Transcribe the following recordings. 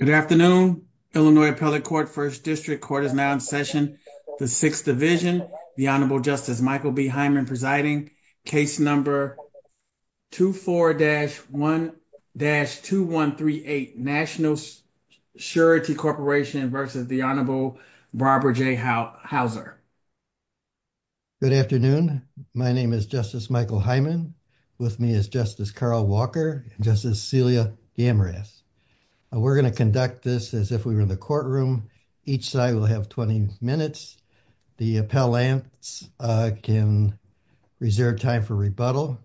Good afternoon. Illinois Appellate Court First District Court is now in session. The Sixth Division. The Honorable Justice Michael B. Hyman presiding. Case number 24-1-2138 National Surety Corporation v. The Honorable Barbara J. Houser. Good afternoon. My name is Justice Michael Hyman. With me is Justice Carl Walker and Justice Celia Gamras. We're going to conduct this as if we were in the courtroom. Each side will have 20 minutes. The appellants can reserve time for rebuttal.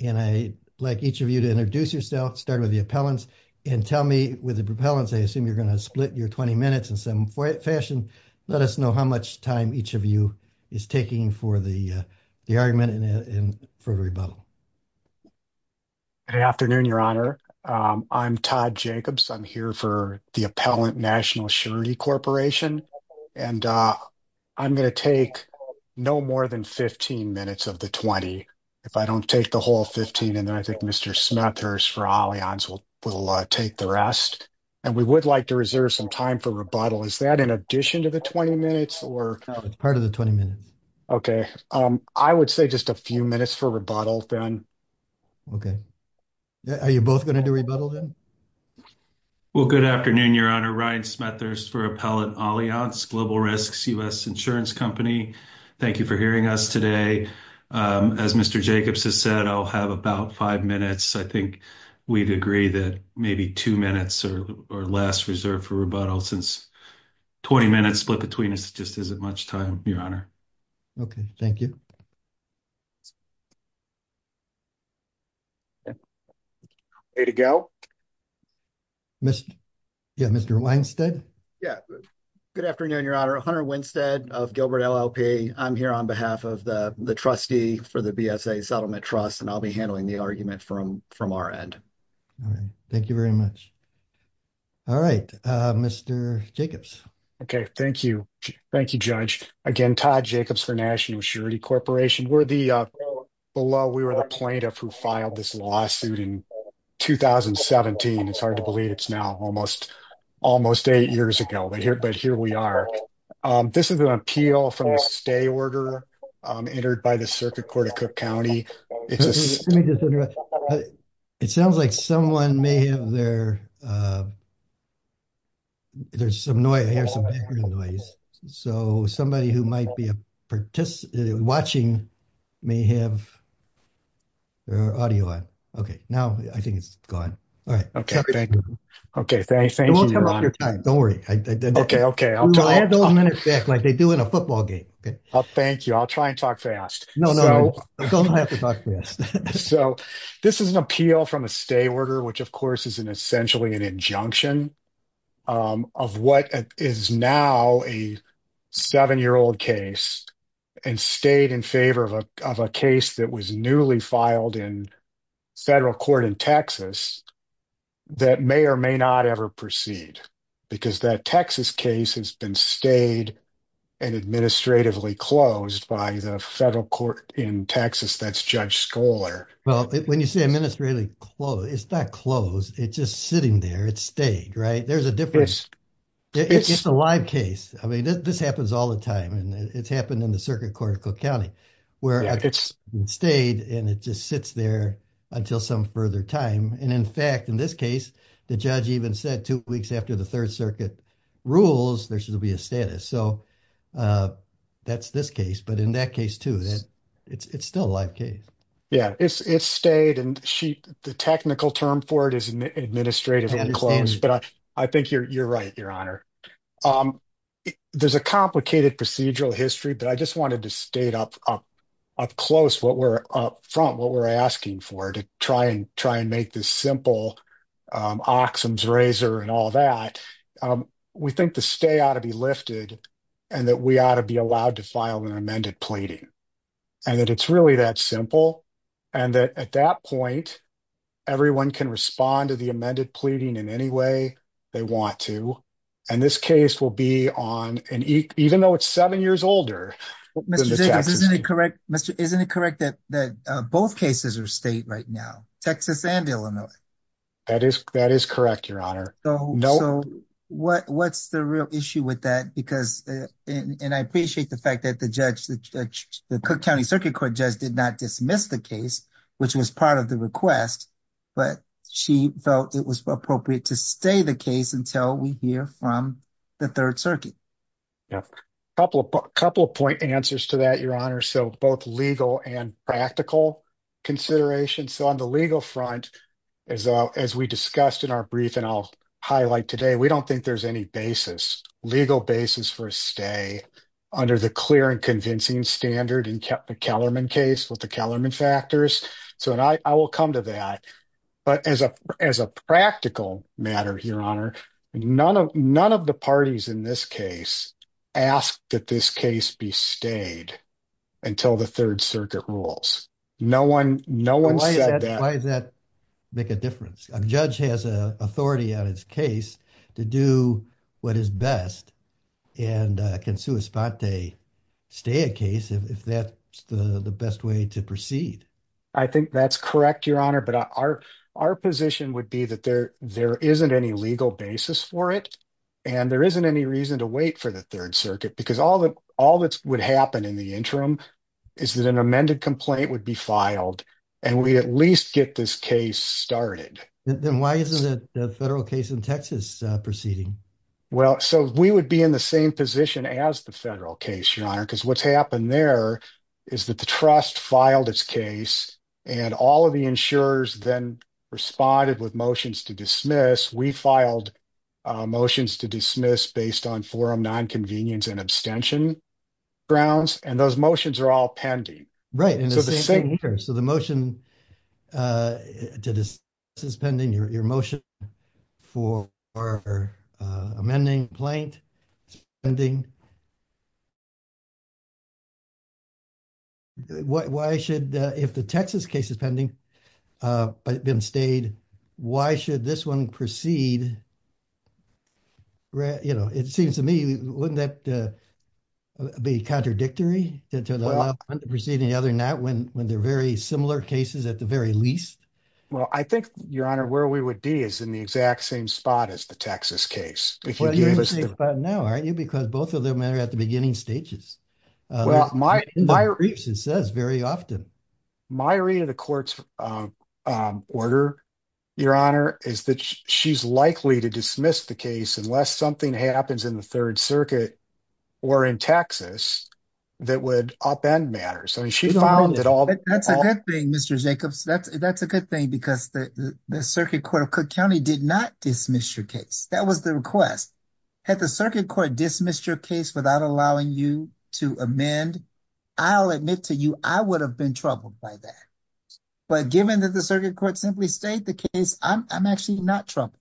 And I'd like each of you to introduce yourself, start with the appellants, and tell me, with the appellants, I assume you're going to split your 20 minutes in some fashion. Let us know how much time each of you is taking for the argument for rebuttal. Good afternoon, Your Honor. I'm Todd Jacobs. I'm here for the Appellant National Surety Corporation. And I'm going to take no more than 15 minutes of the 20. If I don't take the whole 15, then I think Mr. Smethurst for Allianz will take the rest. And we would like to reserve some time for rebuttal. Is that in addition to the 20 minutes? No, it's part of the 20 minutes. Okay. I would say just a few minutes for rebuttal, then. Okay. Are you both going to do rebuttal, then? Well, good afternoon, Your Honor. Ryan Smethurst for Appellant Allianz Global Risks U.S. Insurance Company. Thank you for hearing us today. As Mr. Jacobs has said, I'll have about five minutes. I think we'd agree that maybe two minutes or less reserved for rebuttal since 20 minutes split between us just isn't much time, Your Honor. Okay. Thank you. Ready to go? Mr. Winstead? Yeah. Good afternoon, Your Honor. Hunter Winstead of Gilbert LLP. I'm here on behalf of the trustee for the BSA Settlement Trust, and I'll be handling the from our end. All right. Thank you very much. All right. Mr. Jacobs? Okay. Thank you. Thank you, Judge. Again, Todd Jacobs for National Assurity Corporation. We're the plaintiff who filed this lawsuit in 2017. It's hard to believe it's now almost eight years ago, but here we are. This is an appeal from a stay order entered by the Circuit Court of Cook County. It sounds like someone may have their... There's some noise. I hear some background noise. So, somebody who might be watching may have their audio on. Okay. Now, I think it's gone. All right. Okay. Thank you. Don't worry. Okay. Okay. I'll try and talk fast. So, this is an appeal from a stay order, which of course is essentially an injunction of what is now a seven-year-old case and stayed in favor of a case that was newly filed in federal court in Texas that may or may not ever proceed because that Texas case has been stayed and administratively closed by the federal court in Texas. That's Judge Scholar. Well, when you say administratively closed, it's not closed. It's just sitting there. It's stayed, right? There's a difference. It's a live case. I mean, this happens all the time and it's happened in the Circuit Court of Cook County where it's stayed and it just sits there until some further time. In fact, in this case, the judge even said two weeks after the Third Circuit rules, there should be a status. So, that's this case, but in that case too, it's still a live case. Yeah. It's stayed and the technical term for it is administratively closed, but I think you're right, Your Honor. There's a complicated procedural history, but I just wanted to state up close, up front, what we're asking for to try and make this simple oxen's razor and all that. We think the stay ought to be lifted and that we ought to be allowed to file an amended pleading and that it's really that simple and that at that point, everyone can respond to the amended pleading in any way they want to and this case will be on, even though it's seven years older than the Texas case. Mr. Jacobs, isn't it correct that both cases are state right now, Texas and Illinois? That is correct, Your Honor. So, what's the real issue with that? And I appreciate the fact that the judge, the Cook County Circuit Court judge, did not dismiss the case, which was part of the request, but she felt it was appropriate to stay the case until we hear from the Third Circuit. Yeah, a couple of point answers to that, Your Honor. So, both legal and practical considerations. So, on the legal front, as we discussed in our brief and I'll highlight today, we don't think there's any basis, legal basis for a stay under the clear and convincing standard and kept the Kellerman case with the Kellerman factors. So, I will come to that, but as a practical matter, Your Honor, none of the parties in this case asked that this case be stayed until the Third Circuit rules. No one said that. Why does that make a difference? A judge has a authority on his case to do what is best and can sua sponte stay a case if that's the best way to proceed. I think that's correct, Your Honor, but our position would be that there isn't any legal basis for it and there isn't any reason to wait for the Third Circuit because all that would happen in the interim is that an amended complaint would be filed and we at least get this case started. Then why isn't the federal case in Texas proceeding? Well, so we would be in the same position as the federal case, Your Honor, because what's happened there is that the trust filed its case and all of the insurers then responded with motions to dismiss. We filed motions to dismiss based on forum non-convenience and abstention grounds and those motions are all pending. Right, so the motion to dismiss is pending. Your motion for our amending complaint is pending. If the Texas case is pending but it's been stayed, why should this one proceed? You know, it seems to me wouldn't that be contradictory to the proceeding the other Well, I think, Your Honor, where we would be is in the exact same spot as the Texas case. No, aren't you? Because both of them are at the beginning stages. My read of the court's order, Your Honor, is that she's likely to dismiss the case unless something happens in the Third Circuit or in Texas that would upend matters. That's a good thing, Mr. Jacobs. That's a good thing because the Circuit Court of Cook County did not dismiss your case. That was the request. Had the Circuit Court dismissed your case without allowing you to amend, I'll admit to you I would have been troubled by that. But given that the Circuit Court simply stayed the case, I'm actually not troubled.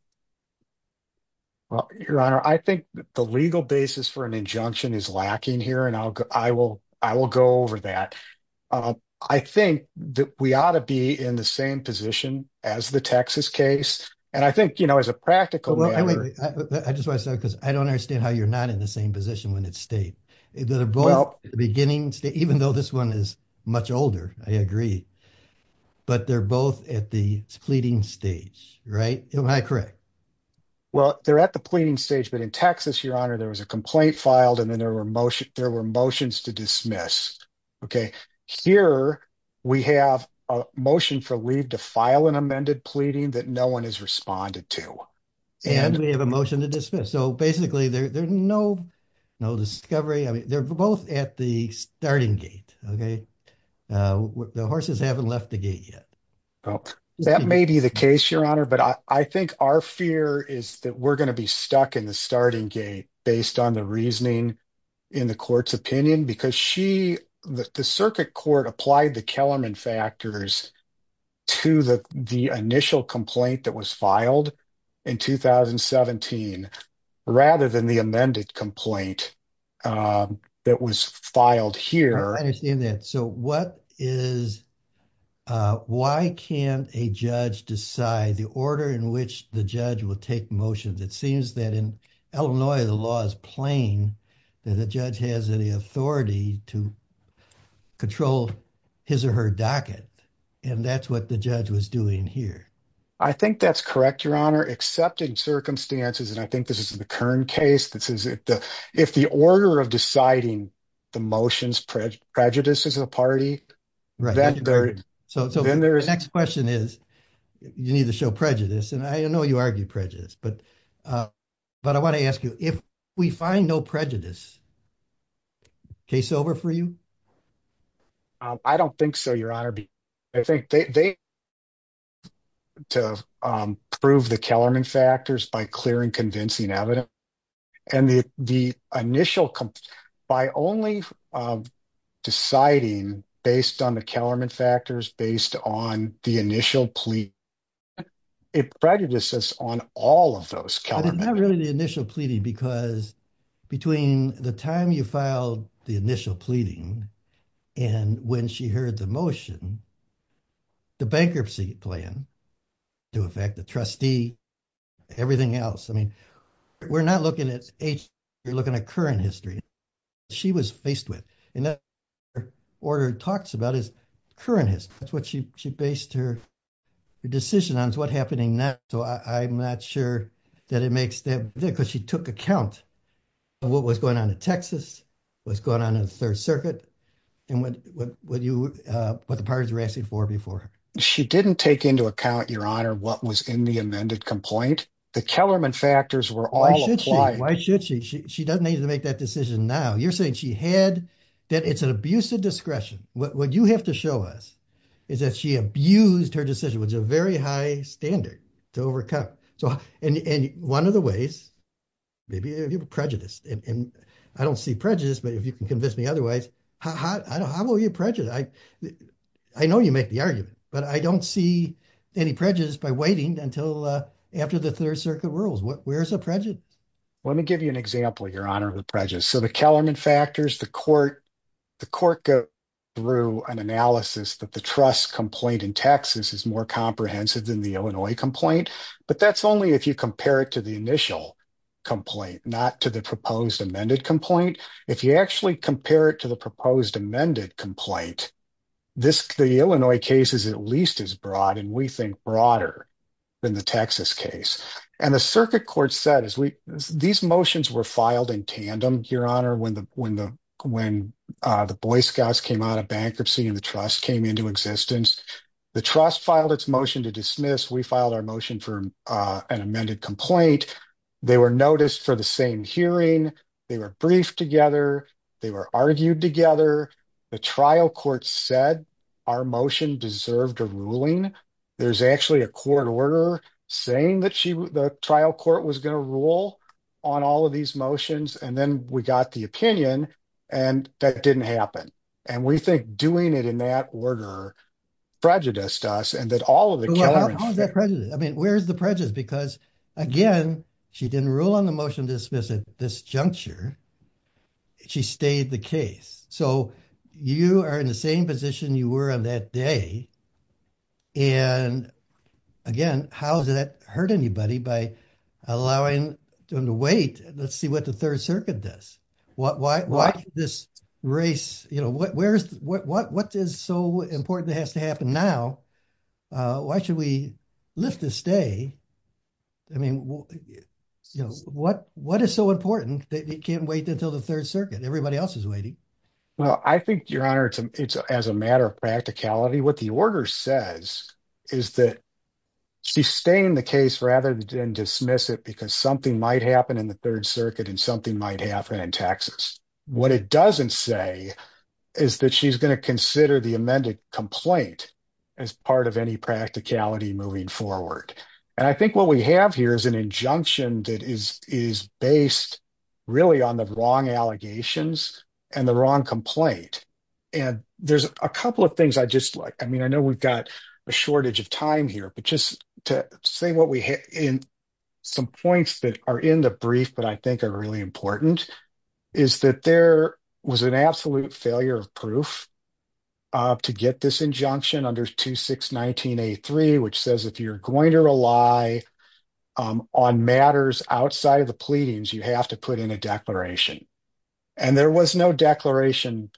Well, Your Honor, I think the legal basis for an injunction is lacking here, and I will go over that. I think that we ought to be in the same position as the Texas case. And I think, you know, as a practical matter, I just want to say because I don't understand how you're not in the same position when it's stayed. Even though this one is much older, I agree. But they're both at the pleading stage, right? Am I and then there were motions to dismiss. Okay, here we have a motion for leave to file an amended pleading that no one has responded to. And we have a motion to dismiss. So basically there's no discovery. I mean, they're both at the starting gate, okay? The horses haven't left the gate yet. That may be the case, Your Honor, but I think our fear is that we're going to be stuck in the starting gate based on the reasoning in the court's opinion, because the Circuit Court applied the Kellerman factors to the initial complaint that was filed in 2017, rather than the amended complaint that was filed here. I understand that. So why can't a judge decide the order in which the judge will take motions? It seems that in Illinois, the law is plain that a judge has any authority to control his or her docket. And that's what the judge was doing here. I think that's correct, Your Honor, except in circumstances. And I think this is the current case. This is if the order of deciding the motions prejudice is a party. Right. So the next question is, you need to show prejudice. And I know you argue prejudice. But I want to ask you, if we find no prejudice, case over for you? I don't think so, Your Honor. I think they have to prove the Kellerman factors by clearing convincing evidence. And the initial complaint, by only deciding based on the Kellerman factors based on the initial plea, it prejudices on all of those Kellerman factors. Not really the initial pleading, because between the time you filed the initial pleading, and when she heard the motion, the bankruptcy plan to affect the trustee, everything else, we're not looking at age, you're looking at current history. She was faced with, and that order talks about is current history. That's what she based her decision on is what happened in that. So I'm not sure that it makes that because she took account of what was going on in Texas, what's going on in the Third Circuit, and what the parties were asking for before. She didn't take into account, Your Honor, what was in the amended complaint. The Kellerman factors were all implied. Why should she? She doesn't need to make that decision now. You're saying she had, that it's an abuse of discretion. What you have to show us is that she abused her decision, which is a very high standard to overcome. And one of the ways, maybe prejudice, and I don't see prejudice, but if you can convince me otherwise, how will you prejudice? I know you make argument, but I don't see any prejudice by waiting until after the Third Circuit rules. Where's the prejudice? Let me give you an example, Your Honor, of the prejudice. So the Kellerman factors, the court go through an analysis that the trust complaint in Texas is more comprehensive than the Illinois complaint. But that's only if you compare it to the initial complaint, not to the proposed amended complaint. If you actually compare it to the proposed amended complaint, the Illinois case is at least as broad, and we think broader than the Texas case. And the circuit court said, these motions were filed in tandem, Your Honor, when the Boy Scouts came out of bankruptcy and the trust came into existence. The trust filed its motion to dismiss. We filed our motion for an amended complaint. They were noticed for the same hearing. They were briefed together. They were argued together. The trial court said our motion deserved a ruling. There's actually a court order saying that the trial court was going to rule on all of these motions, and then we got the opinion, and that didn't happen. And we think doing it in that order prejudiced us, and that all of the Kellerman... How is that prejudiced? I mean, where's the prejudice? Because, again, she didn't rule on motion to dismiss at this juncture. She stayed the case. So you are in the same position you were on that day, and again, how does that hurt anybody by allowing them to wait? Let's see what the Third Circuit does. Why this race? What is so important that has to happen now? Why should we lift this day? I mean, what is so important that we can't wait until the Third Circuit? Everybody else is waiting. Well, I think, Your Honor, it's as a matter of practicality. What the order says is that she's staying the case rather than dismiss it because something might happen in the Third Circuit and something might happen in Texas. What it doesn't say is that she's going to consider the amended complaint as part of any practicality moving forward. And I think what we have here is an injunction that is based really on the wrong allegations and the wrong complaint. And there's a couple of things I just like. I mean, I know we've got a shortage of time here, but just to say what we hit in some points that are in the brief, but I think are really important, is that there was an absolute failure of proof to get this injunction under 2619A3, which says if you're going to rely on matters outside of the pleadings, you have to put in a declaration. And there was no declaration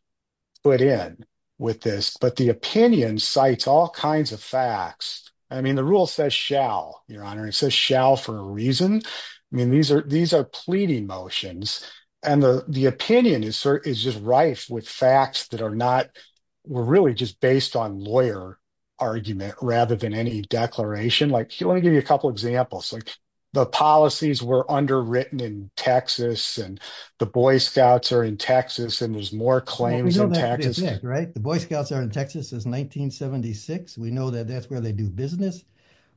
put in with this, but the opinion cites all kinds of facts. I mean, rule says shall, Your Honor. It says shall for a reason. I mean, these are pleading motions, and the opinion is just rife with facts that are not, were really just based on lawyer argument rather than any declaration. Like, I want to give you a couple examples. Like, the policies were underwritten in Texas, and the Boy Scouts are in Texas, and there's more claims in Texas. Right. The Boy Scouts are in Texas since 1976. We know that that's where they do business.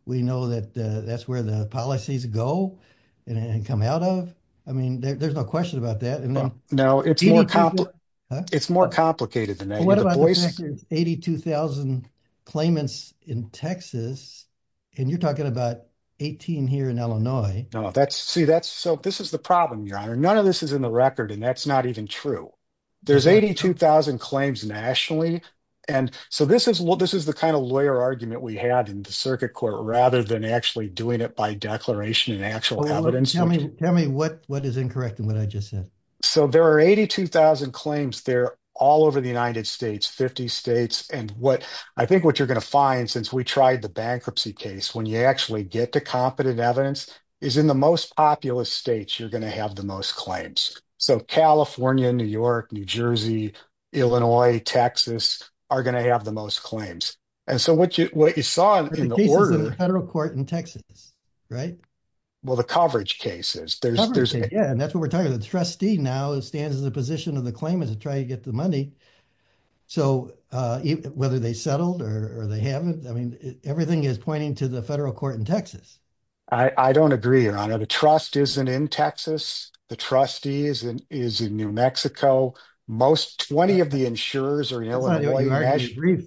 We know that that's where the policies go and come out of. I mean, there's no question about that. No, it's more complicated than that. 82,000 claimants in Texas, and you're talking about 18 here in Illinois. No, see, this is the problem, Your Honor. None of this is in the record, and that's not even true. There's 82,000 claims nationally, and so this is the kind of lawyer argument we had in the circuit court rather than actually doing it by declaration and actual evidence. Tell me what is incorrect in what I just said. So there are 82,000 claims there all over the United States, 50 states, and what I think what you're going to find since we tried the bankruptcy case, when you actually get to competent evidence, is in the most populous states, you're going to have the most claims. So California, New York, New Jersey, Illinois, Texas are going to have the most claims. And so what you saw in the order- The cases of the federal court in Texas, right? Well, the coverage cases. Coverage, yeah, and that's what we're talking about. The trustee now stands in the position of the claimant to try to get the money. So whether they settled or they haven't, I mean, everything is pointing to the federal court in Texas. I don't agree, Your Honor. The trust isn't in Texas. The trustee is in New Mexico. Most, 20 of the insurers are in Illinois.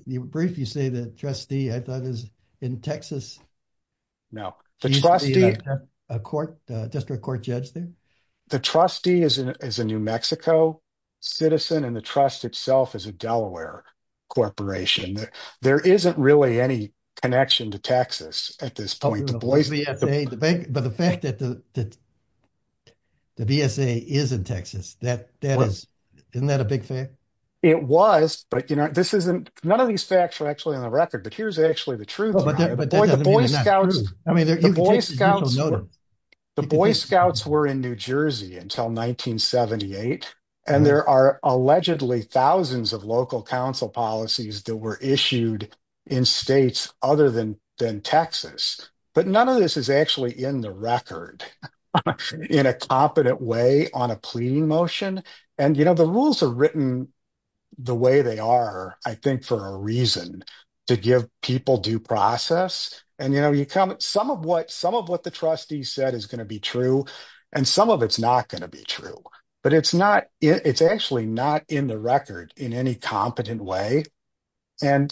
You briefly say the trustee, I thought, is in Texas. No. The trustee- Is there a district court judge there? The trustee is a New Mexico citizen, and the trust itself is a Delaware corporation. There isn't really any connection to Texas at this point. But the fact that the BSA is in Texas, isn't that a big thing? It was, but none of these facts are actually on the record, but here's actually the truth. The Boy Scouts were in New Jersey until 1978, and there are allegedly thousands of local council policies that were issued in states other than Texas, but none of this is actually in the record in a competent way on a pleading motion. The rules are written the way they are, I think, for a reason, to give people due process. Some of what the trustee said is going to be true, and some of it's not going to be true, but it's actually not in the record in any competent way. In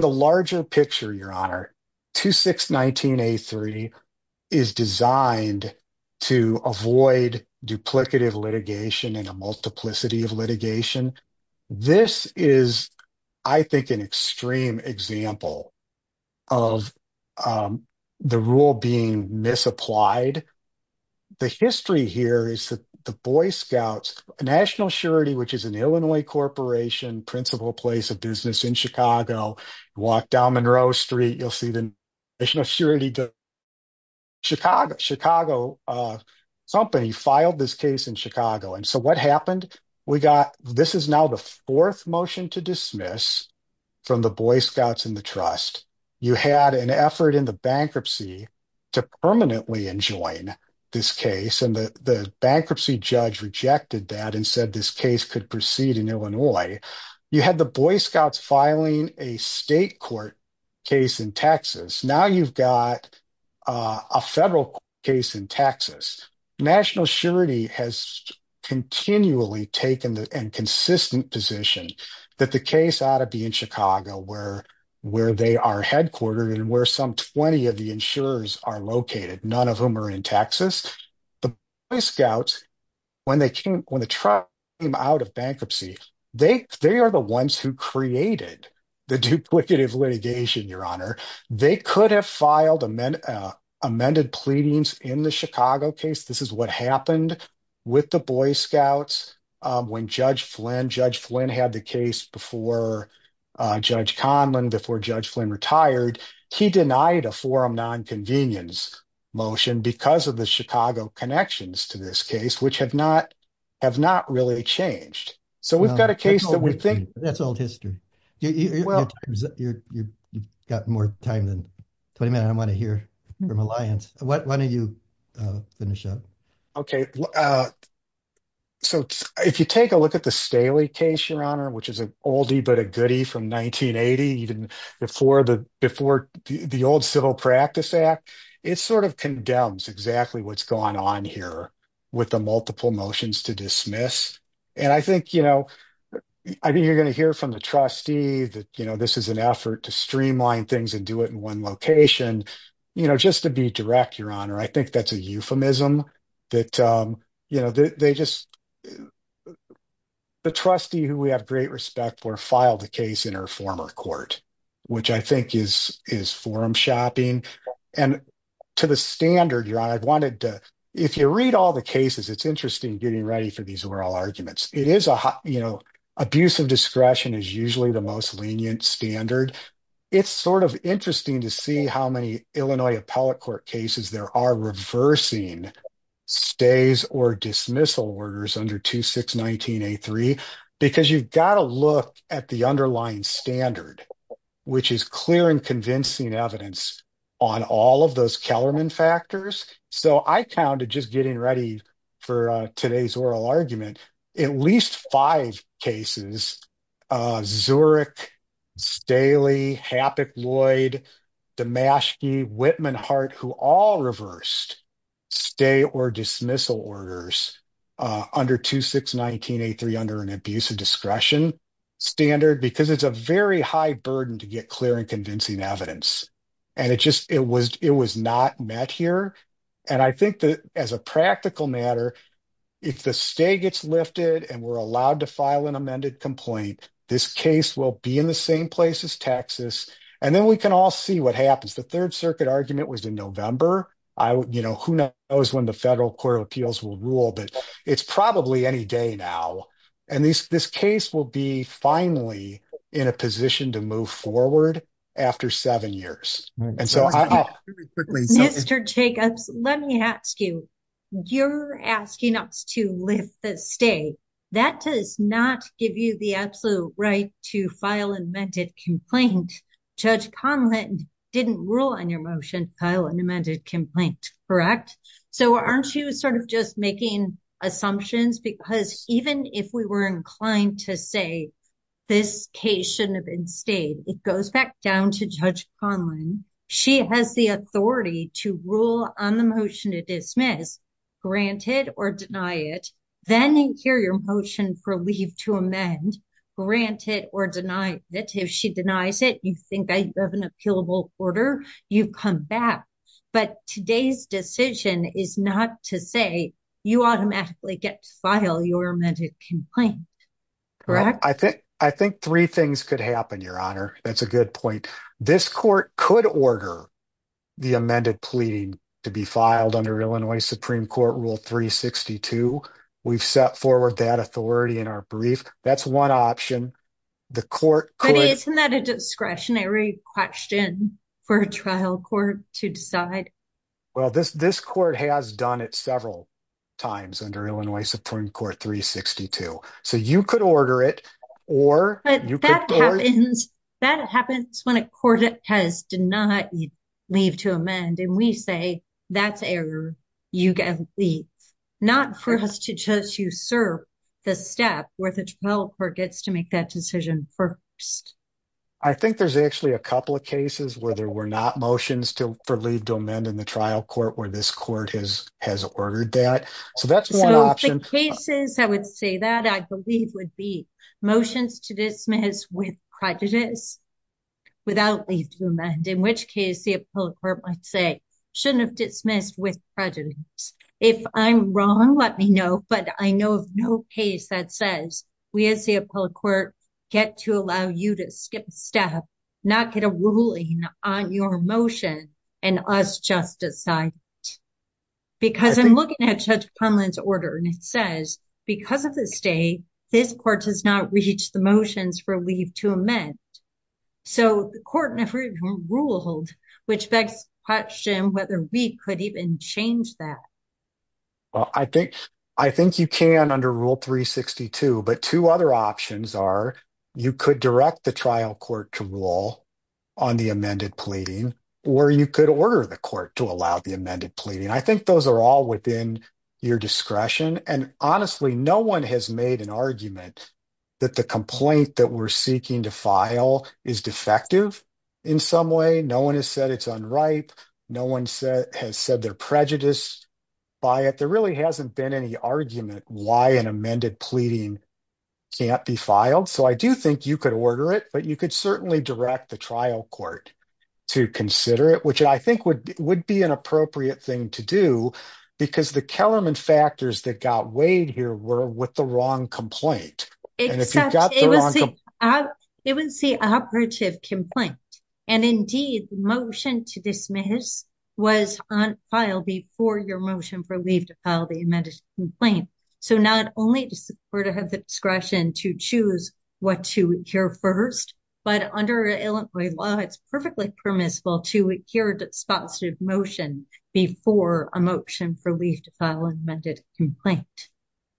the larger picture, Your Honor, 2619A3 is designed to avoid duplicative litigation and multiplicity of litigation. This is, I think, an extreme example of the rule being misapplied. The history here is that the Boy Scouts, a national surety, which is an Illinois corporation, principal place of business in Chicago, walk down Monroe Street, you'll see the national surety. Chicago company filed this case in Chicago, and so what happened? This is now the fourth motion to dismiss from the Boy Scouts and the trust. You had an effort in the bankruptcy to permanently enjoin this case, and the bankruptcy judge rejected that and said this case could proceed in Illinois. You had the Boy Scouts filing a state court case in Texas. Now you've got a federal case in Texas. National surety has continually taken the consistent position that the case ought to be in Chicago where they are headquartered and where some 20 of the insurers are located, none of whom are in Texas. The Boy Scouts, when the trust came out of bankruptcy, they are the ones who created the duplicative litigation, Your Honor. They could have filed amended pleadings in the Chicago case. This is what happened with the Boy Scouts when Judge Flynn had the case before Judge Conlin, before Judge Flynn retired. He denied a forum non-convenience motion because of the Chicago connections to this case, which have not really changed. So we've got a case that we think... That's old history. You've got more time than 20 minutes. I want to hear from Alliance. Why don't you finish up? Okay, so if you take a look at the Staley case, Your Honor, which is an oldie but a goodie from 1980, even before the old Civil Practice Act, it sort of condemns exactly what's gone on here with the multiple motions to dismiss. And I think you're going to hear from the trustee that this is an effort to streamline things and do it in one location. Just to be direct, Your Honor, I think that's a euphemism that they just... The trustee, who we have great respect for, filed the case in her former court, which I think is forum shopping. And to the standard, Your Honor, I wanted to... If you read all the cases, it's interesting getting ready for these oral arguments. It is... Abuse of discretion is usually the most lenient standard. It's sort of interesting to see how many Illinois appellate court cases there are reversing stays or dismissal orders under 2619-A3 because you've got to look at the underlying standard, which is clear and convincing evidence on all of those Kellerman factors. So I counted, just getting ready for today's oral argument, at least five cases, Zurich, Staley, Hapik-Lloyd, Damaschke, Whitman-Hart, who all reversed stay or dismissal orders under 2619-A3 under an abuse of discretion standard because it's a very high burden to get clear and convincing evidence. And it was not met here. And I think that as a practical matter, if the stay gets lifted and we're allowed to file an amended complaint, this case will be in the same place as Texas. And then we can all see what happens. The Third Circuit argument was in November. Who knows when the Federal Court of Appeals will rule, but it's probably any day now. And this case will be finally in a position to move forward after seven years. Mr. Jacobs, let me ask you, you're asking us to lift the stay. That does not give you the absolute right to file an amended complaint. Judge Conlin didn't rule on your motion, file an amended complaint, correct? So aren't you sort of just making assumptions? Because even if we were inclined to say this case shouldn't have been stayed, it goes back down to Judge Conlin. She has the authority to rule on the motion to dismiss, grant it or deny it, then hear your motion for leave to amend, grant it or deny it. If she denies it, you think you have an appealable order, you come back. But today's decision is not to say you automatically get to file your amended complaint, correct? I think three things could happen, Your Honor. That's a good point. This court could order the amended pleading to be filed under Illinois Supreme Court Rule 362. We've set forward that authority in our brief. That's one option. Isn't that a discretionary question for a trial court to decide? Well, this court has done it several times under Illinois Supreme Court 362. So you could order it or... That happens when a court has denied leave to amend and we say that's error, you can leave. Not for us to just usurp the step where the trial court gets to make that decision first. I think there's actually a couple of cases where there were not motions for leave to amend in the case. This court has ordered that. So that's one option. So the cases I would say that I believe would be motions to dismiss with prejudice without leave to amend, in which case the appellate court might say shouldn't have dismissed with prejudice. If I'm wrong, let me know. But I know of no case that says we as the appellate court get to allow you to skip a step, not get a ruling on your motion and us just decide it. Because I'm looking at Judge Punlin's order and it says because of the state, this court has not reached the motions for leave to amend. So the court never even ruled, which begs the question whether we could even change that. Well, I think you can under Rule 362, but two other options are you could direct the trial court to rule on the amended pleading or you could order the court to allow the amended pleading. I think those are all within your discretion. And honestly, no one has made an argument that the complaint that we're seeking to file is defective in some way. No one has said it's unripe. No one has said they're prejudiced by it. There really hasn't been any argument why an amended pleading can't be filed. So I do think you could order it, but you could certainly direct the trial court to consider it, which I think would be an appropriate thing to do because the Kellerman factors that got weighed here were with the wrong complaint. It was the operative complaint. And indeed, the motion to dismiss was on file before your motion for leave to file the amended complaint. So not only does the court have the discretion to choose what to hear first, but under Illinois law, it's perfectly permissible to hear the sponsored motion before a motion for leave to file an amended complaint.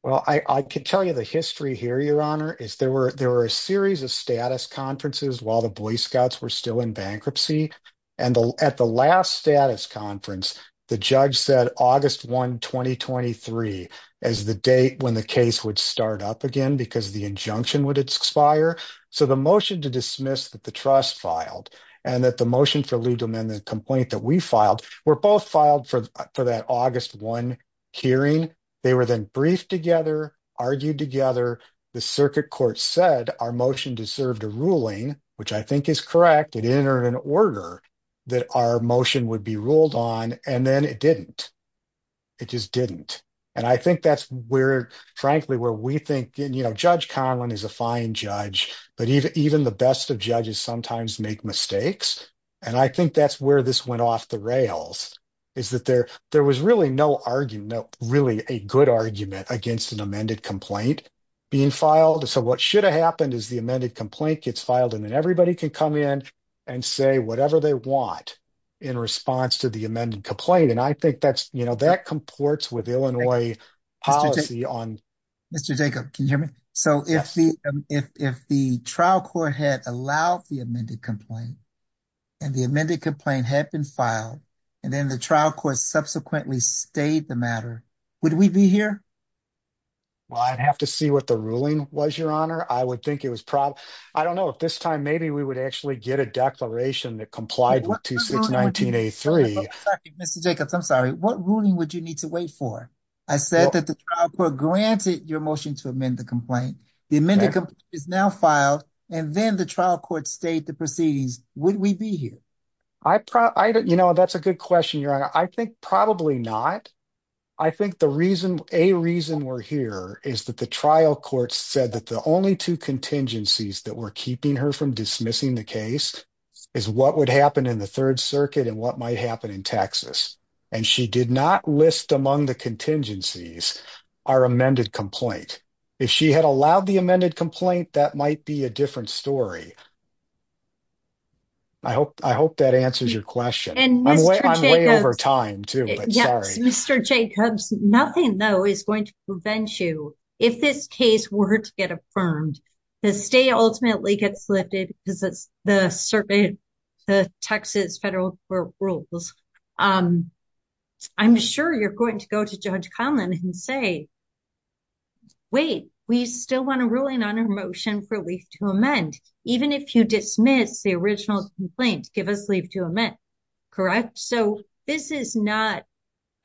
Well, I can tell you the history here, Your Honor, is there were a series of status conferences while the Boy Scouts were still in bankruptcy. And at the last status conference, the judge said August 1, 2023 as the date when the case would start up again because the injunction would expire. So the motion to dismiss that the trust filed and that the motion for leave to amend the complaint that we filed were both filed for that August 1 hearing. They were then briefed together, argued together. The circuit court said our motion deserved a ruling, which I think is correct. It entered an order that our motion would be ruled on and then it didn't. It just didn't. And I think that's where, frankly, where we think, you know, Judge Conlon is a fine judge, but even the best of judges sometimes make mistakes. And I think that's where this went off the rails is that there was really no argument, really a good argument against an amended complaint being filed. So what should have happened is the amended complaint gets filed and then everybody can come in and say whatever they want in response to the amended complaint. And I think that's, you know, that comports with Illinois policy on... Mr. Jacob, can you hear me? So if the trial court had allowed the amended complaint and the amended complaint had been filed and then the trial court subsequently stayed the matter, would we be here? Well, I'd have to see what the ruling was, Your Honor. I would think it was probably... I don't know if this time maybe we would actually get a declaration that complied with 2619A3. Mr. Jacobs, I'm sorry. What ruling would you need to wait for? I said that the trial court granted your motion to amend the complaint. The amended complaint is now filed and then the trial court stayed the proceedings. Would we be here? You know, that's a good question, Your Honor. I think probably not. I think a reason we're here is that the trial court said that the only two contingencies that were keeping her from dismissing the case is what would happen in the Third Circuit and what might happen in Texas. And she did not list among the contingencies our amended complaint. If she had allowed the amended complaint, that might be a different story. I hope that answers your question. And Mr. Jacobs... I'm way over time too, but sorry. Mr. Jacobs, nothing though is going to prevent you, if this case were to get affirmed, the state ultimately gets lifted because it's the Texas federal rules. I'm sure you're going to go to Judge Conlin and say, wait, we still want a ruling on our motion for leave to amend. Even if you dismiss the original complaint, give us leave to amend, correct? So this is not...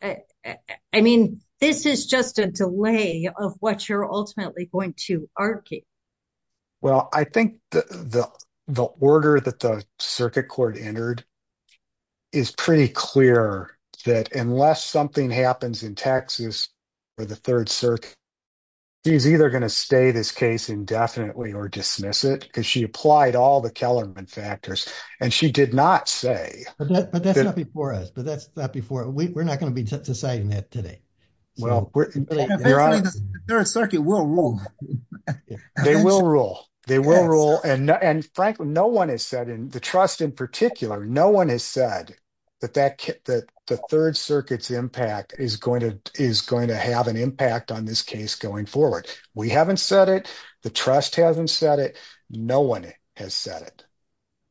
I mean, this is just a delay of what you're ultimately going to argue. Well, I think the order that the circuit court entered is pretty clear that unless something happens in Texas or the Third Circuit, she's either going to stay this case indefinitely or dismiss it because she applied all the Kellerman factors. And she did not say... But that's not before us. But that's not before... We're not going to be deciding that today. Well, you're on... And eventually the Third Circuit will rule. They will rule. They will rule. And frankly, no one has said in the trust in particular, no one has said that the Third Circuit's impact is going to have an impact on this case going forward. We haven't said it. The trust hasn't said it. No one has said it.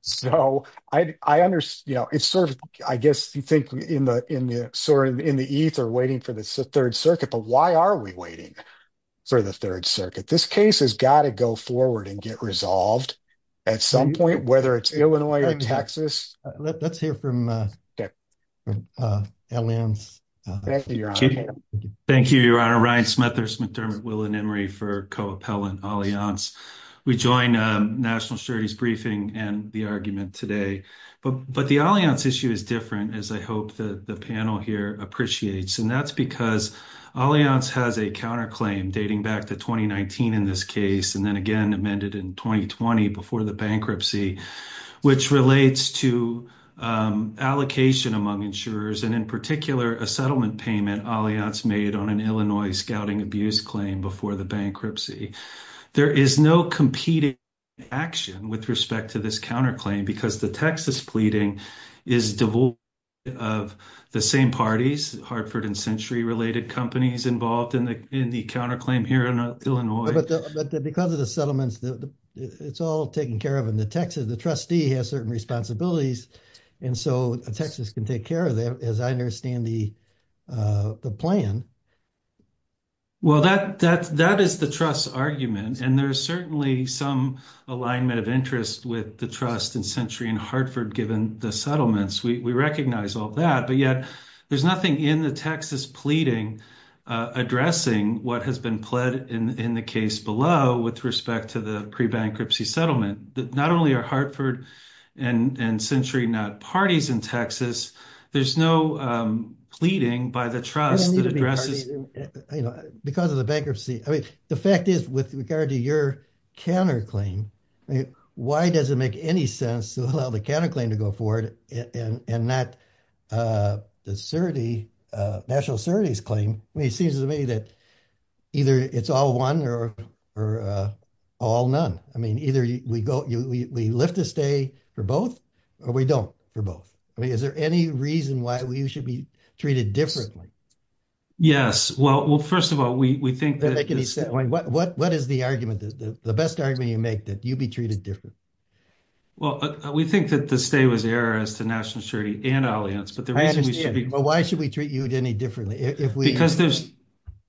So I guess you think in the ether waiting for the Third Circuit, why are we waiting for the Third Circuit? This case has got to go forward and get resolved at some point, whether it's Illinois or Texas. Let's hear from Alliance. Thank you, Your Honor. Ryan Smethurst, McDermott, Will and Emery for co-appellant Alliance. We join National Security's briefing and the argument today. But the Alliance issue is different as I hope the panel here appreciates. And that's because Alliance has a counterclaim dating back to 2019 in this case. And then again, amended in 2020 before the bankruptcy, which relates to allocation among insurers. And in particular, a settlement payment Alliance made on an Illinois scouting abuse claim before the bankruptcy. There is no competing action with respect to this counterclaim because the Texas pleading is devoid of the same parties, Hartford and Century related companies involved in the counterclaim here in Illinois. But because of the settlements, it's all taken care of in the Texas. The trustee has certain responsibilities. And so Texas can take care of that as I understand the plan. Well, that is the trust's argument. And there's certainly some alignment of interest with the trust in Century and Hartford given the settlements. We recognize all that. There's nothing in the Texas pleading addressing what has been pled in the case below with respect to the pre-bankruptcy settlement. Not only are Hartford and Century not parties in Texas, there's no pleading by the trust that addresses... Because of the bankruptcy. The fact is with regard to your counterclaim, why does it make any sense to allow the counterclaim to go forward and not the National Security's claim? I mean, it seems to me that either it's all one or all none. I mean, either we lift the stay for both or we don't for both. I mean, is there any reason why we should be treated differently? Yes. Well, first of all, we think that... What is the argument? The best argument you make that you'd be treated differently? Well, we think that the stay was error as to National Security and Alliance, but the reason we should be... But why should we treat you any differently if we... Because there's...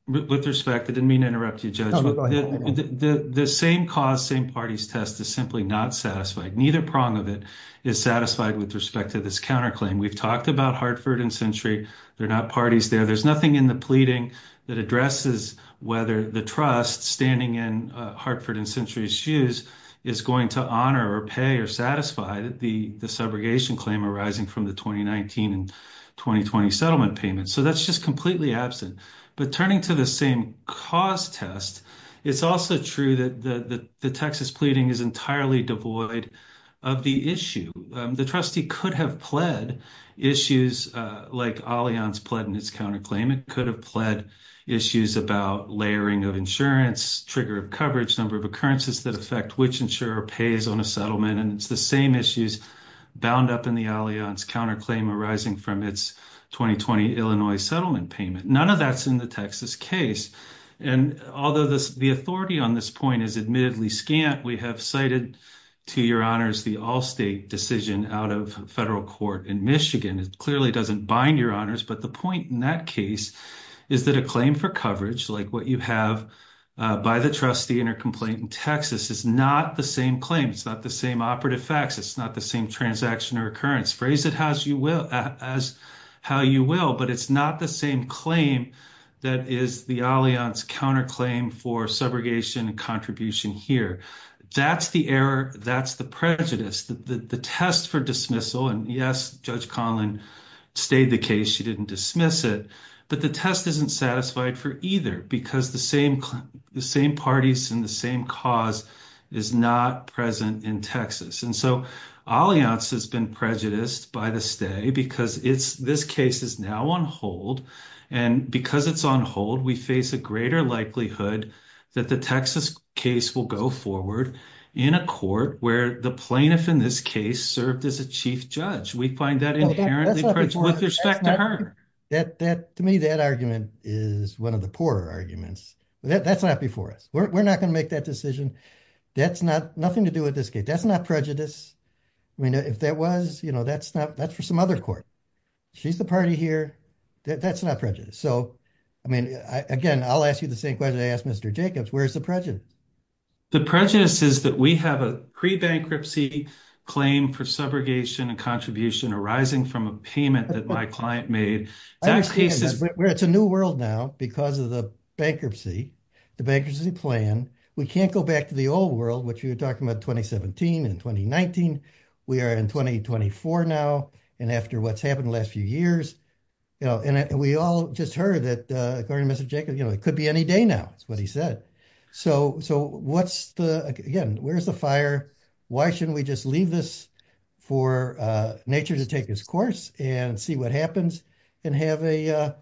With respect, I didn't mean to interrupt you, Judge. The same cause, same parties test is simply not satisfied. Neither prong of it is satisfied with respect to this counterclaim. We've talked about Hartford and Century. They're not parties there. There's nothing in the pleading that addresses whether the trust standing in Hartford and Century's shoes is going to honor or pay or satisfy the subrogation claim arising from the 2019 and 2020 settlement payments. So that's just completely absent. But turning to the same cause test, it's also true that the Texas pleading is entirely devoid of the issue. The trustee could have pled issues like Alliance pled in its counterclaim. It could have pled issues about layering of insurance, trigger of coverage, number of occurrences that affect which insurer pays on a settlement. And it's the same issues bound up in the Alliance counterclaim arising from its 2020 Illinois settlement payment. None of that's in the Texas case. And although the authority on this point is admittedly scant, we have cited to your honors the Allstate decision out of federal court in Michigan. It clearly doesn't bind your honors. But the point in that case is that a claim for coverage like what you have by the trustee intercomplaint in Texas is not the same claim. It's not the same operative facts. It's not the same transaction or occurrence. Phrase it as you will, but it's not the same claim that is the Alliance counterclaim for subrogation contribution here. That's the error. That's the prejudice. The test for dismissal. And yes, Judge Conlin stayed the case. She didn't dismiss it. But the test isn't satisfied for either because the same parties and the same cause is not present in Texas. And so Alliance has been prejudiced by the stay because this case is now on hold. And because it's on hold, we face a greater likelihood that the Texas case will go forward in a court where the plaintiff in this case served as a chief judge. We find that inherently with respect to her that that to me that argument is one of the poorer arguments. That's not before us. We're not going to make that decision. That's not nothing to do with this case. That's not prejudice. I mean, if that was, you know, that's not that's for some other court. She's the party here. That's not prejudice. So, I mean, again, I'll ask you the same question. I asked Mr. Jacobs, where's the prejudice? The prejudice is that we have a pre-bankruptcy claim for subrogation and contribution arising from a payment that my client made. It's a new world now because of the bankruptcy, the bankruptcy plan. We can't go back to the old world, which you were talking about 2017 and 2019. We are in 2024 now. And after what's happened the last few years, you know, and we all just heard that according to Mr. Jacobs, you know, it could be any day now. That's what he said. So, so what's the, again, where's the fire? Why shouldn't we just leave this for nature to take this course and see what happens and have a,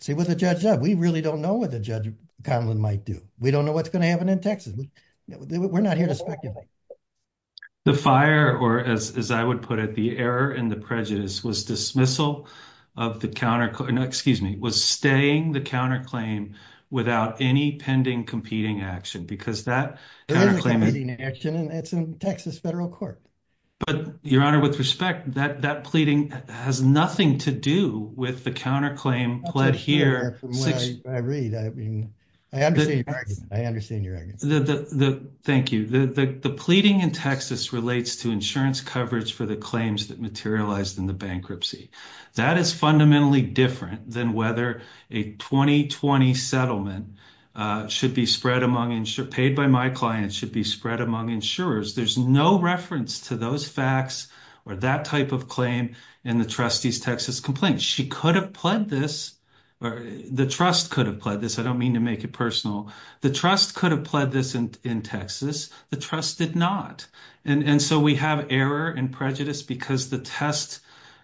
see what the judge does. We really don't know what the Judge Conlon might do. We don't know what's going to happen in Texas. We're not here to speculate. The fire, or as I would put it, the error and the prejudice was dismissal of the counter, excuse me, was staying the counterclaim without any pending competing action because that There is a competing action and it's in Texas federal court. But your honor, with respect that that pleading has nothing to do with the counterclaim pled here. That's what I hear from what I read. I mean, I understand your argument. I understand your argument. Thank you. The pleading in Texas relates to insurance coverage for the claims that materialized in the bankruptcy. That is fundamentally different than whether a 2020 settlement should be spread among insured, paid by my clients should be spread among insurers. There's no reference to those facts or that type of claim in the trustees Texas complaint. She could have pled this or the trust could have pled this. I don't mean to make it personal. The trust could have pled this in Texas. The trust did not. And so we have error and prejudice because the test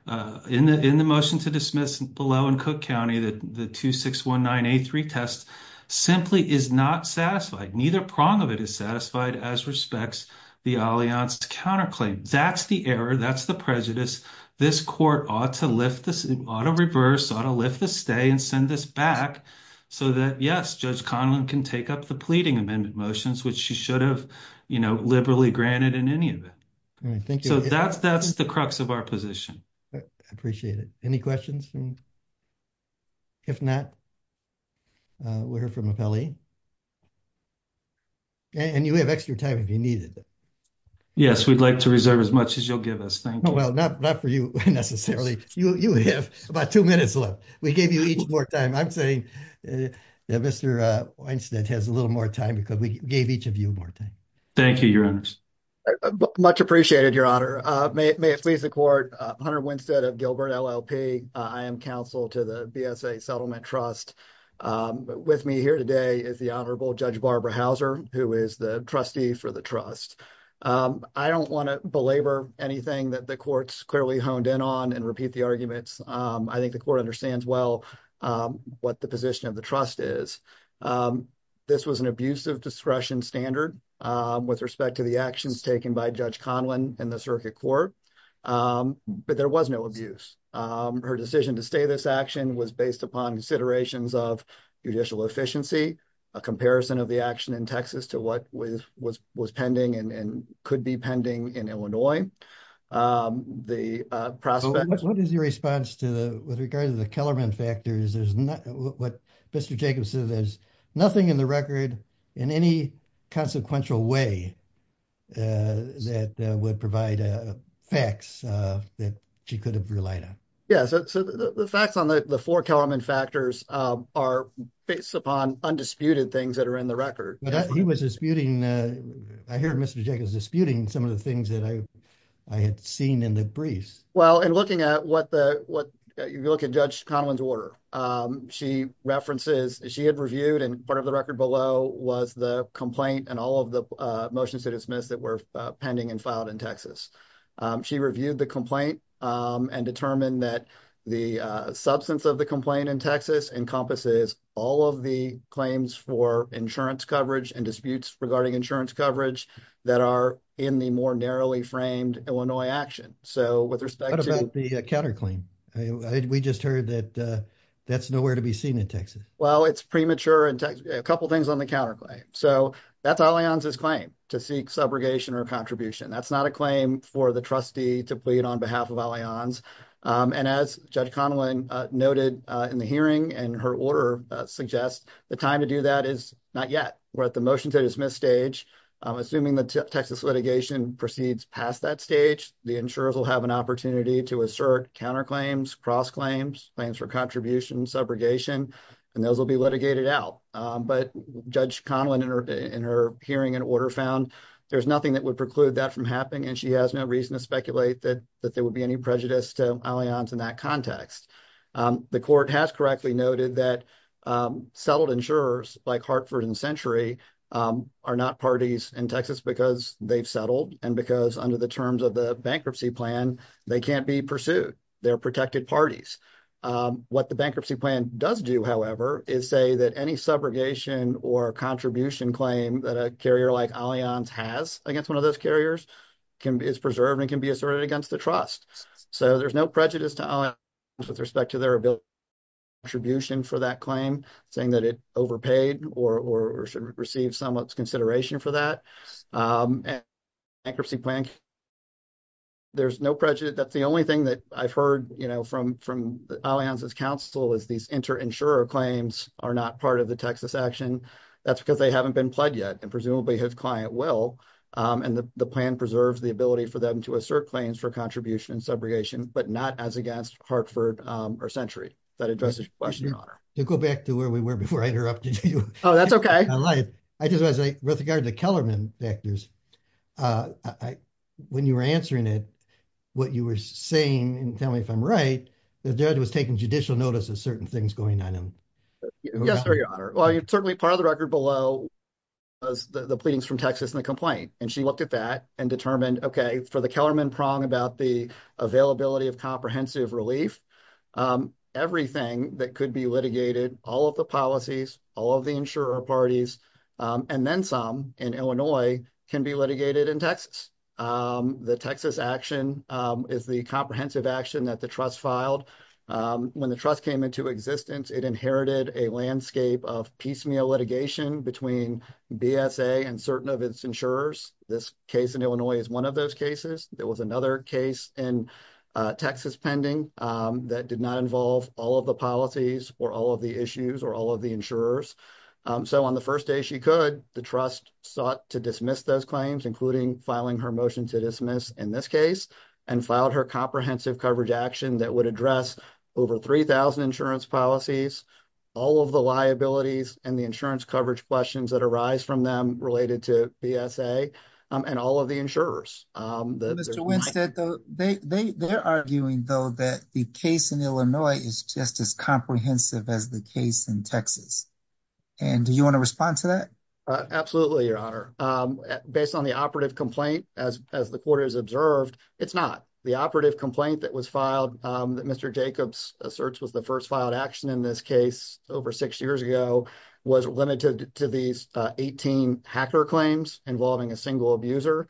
in the in the motion to dismiss below and Cook County that the 261983 test simply is not satisfied. Neither prong of it is satisfied as respects the Alliance counterclaim. That's the error. That's the prejudice. This court ought to lift this auto reverse auto lift the stay and send this back. So that yes, Judge Conlon can take up the pleading amendment motions, which she should you know, liberally granted in any of it. So that's that's the crux of our position. Appreciate it. Any questions? If not, we're from a belly. And you have extra time if you need it. Yes, we'd like to reserve as much as you'll give us. Thank you. Well, not for you necessarily. You have about two minutes left. We gave you each more time. I'm saying that Mr. Weinstein has a little more time because we gave each of you more time. Thank you, your honor. Much appreciated, your honor. May it please the court. Hunter Winstead of Gilbert LLP. I am counsel to the BSA Settlement Trust. With me here today is the Honorable Judge Barbara Houser, who is the trustee for the trust. I don't want to belabor anything that the court's clearly honed in on and repeat the I think the court understands well what the position of the trust is. This was an abuse of discretion standard with respect to the actions taken by Judge Conlin in the circuit court. But there was no abuse. Her decision to stay. This action was based upon considerations of judicial efficiency, a comparison of the action in Texas to what was was was pending and could be pending in Illinois. Um, the prospect. What is your response to the with regard to the Kellerman factors? There's not what Mr. Jacobson. There's nothing in the record in any consequential way. That would provide a fax that she could have relied on. Yeah, so the facts on the four element factors are based upon undisputed things that are in the record. He was disputing. I heard Mr. Jacobs disputing some of the things that I I had seen in the briefs. Well, and looking at what the what you look at Judge Conlin's order, she references she had reviewed and part of the record below was the complaint and all of the motions to dismiss that were pending and filed in Texas. She reviewed the complaint and determined that the substance of the complaint in Texas encompasses all of the claims for insurance coverage and disputes regarding insurance coverage that are in the more narrowly framed Illinois action. So with respect to the counterclaim, we just heard that that's nowhere to be seen in Texas. Well, it's premature and a couple of things on the counterclaim. So that's Allianz's claim to seek subrogation or contribution. That's not a claim for the trustee to plead on behalf of Allianz. And as Judge Conlin noted in the hearing and her order suggests, the time to do that is not yet. We're at the motion to dismiss stage. Assuming the Texas litigation proceeds past that stage, the insurers will have an opportunity to assert counterclaims, cross claims, claims for contribution, subrogation, and those will be litigated out. But Judge Conlin in her hearing and order found there's nothing that would preclude that from and she has no reason to speculate that there would be any prejudice to Allianz in that The court has correctly noted that settled insurers like Hartford and Century are not parties in Texas because they've settled and because under the terms of the bankruptcy plan, they can't be pursued. They're protected parties. What the bankruptcy plan does do, however, is say that any subrogation or contribution claim that a carrier like Allianz has against one of those carriers is preserved and can be asserted against the trust. So there's no prejudice to Allianz with respect to their ability to make a contribution for that claim, saying that it overpaid or should receive someone's consideration for that. And bankruptcy plan, there's no prejudice. That's the only thing that I've heard, you know, from Allianz's counsel is these inter-insurer claims are not part of the Texas action. That's because they haven't been pledged yet and presumably his client will. And the plan preserves the ability for them to assert claims for contribution and subrogation, but not as against Hartford or Century. That addresses your question, your honor. To go back to where we were before I interrupted you. Oh, that's okay. I lied. I just was like, with regard to Kellerman vectors, when you were answering it, what you were saying, and tell me if I'm right, the judge was taking judicial notice of certain things going on. Yes, sir, your honor. Certainly part of the record below was the pleadings from Texas and the complaint. And she looked at that and determined, okay, for the Kellerman prong about the availability of comprehensive relief, everything that could be litigated, all of the policies, all of the insurer parties, and then some in Illinois can be litigated in Texas. The Texas action is the comprehensive action that the trust filed. When the trust came into existence, it inherited a landscape of piecemeal litigation between BSA and certain of its insurers. This case in Illinois is one of those cases. There was another case in Texas pending that did not involve all of the policies or all of the issues or all of the insurers. So on the first day she could, the trust sought to dismiss those claims, including filing her motion to dismiss in this case and filed her comprehensive coverage action that would address over 3,000 insurance policies, all of the liabilities and the insurance coverage questions that arise from them related to BSA and all of the insurers. Mr. Winstead, they're arguing, though, that the case in Illinois is just as comprehensive as the case in Texas. And do you want to respond to that? Absolutely, your honor. Based on the operative complaint, as the court has observed, it's not. The operative complaint that was filed that Mr. Jacobs asserts was the first filed action in this case over six years ago was limited to these 18 hacker claims involving a single abuser.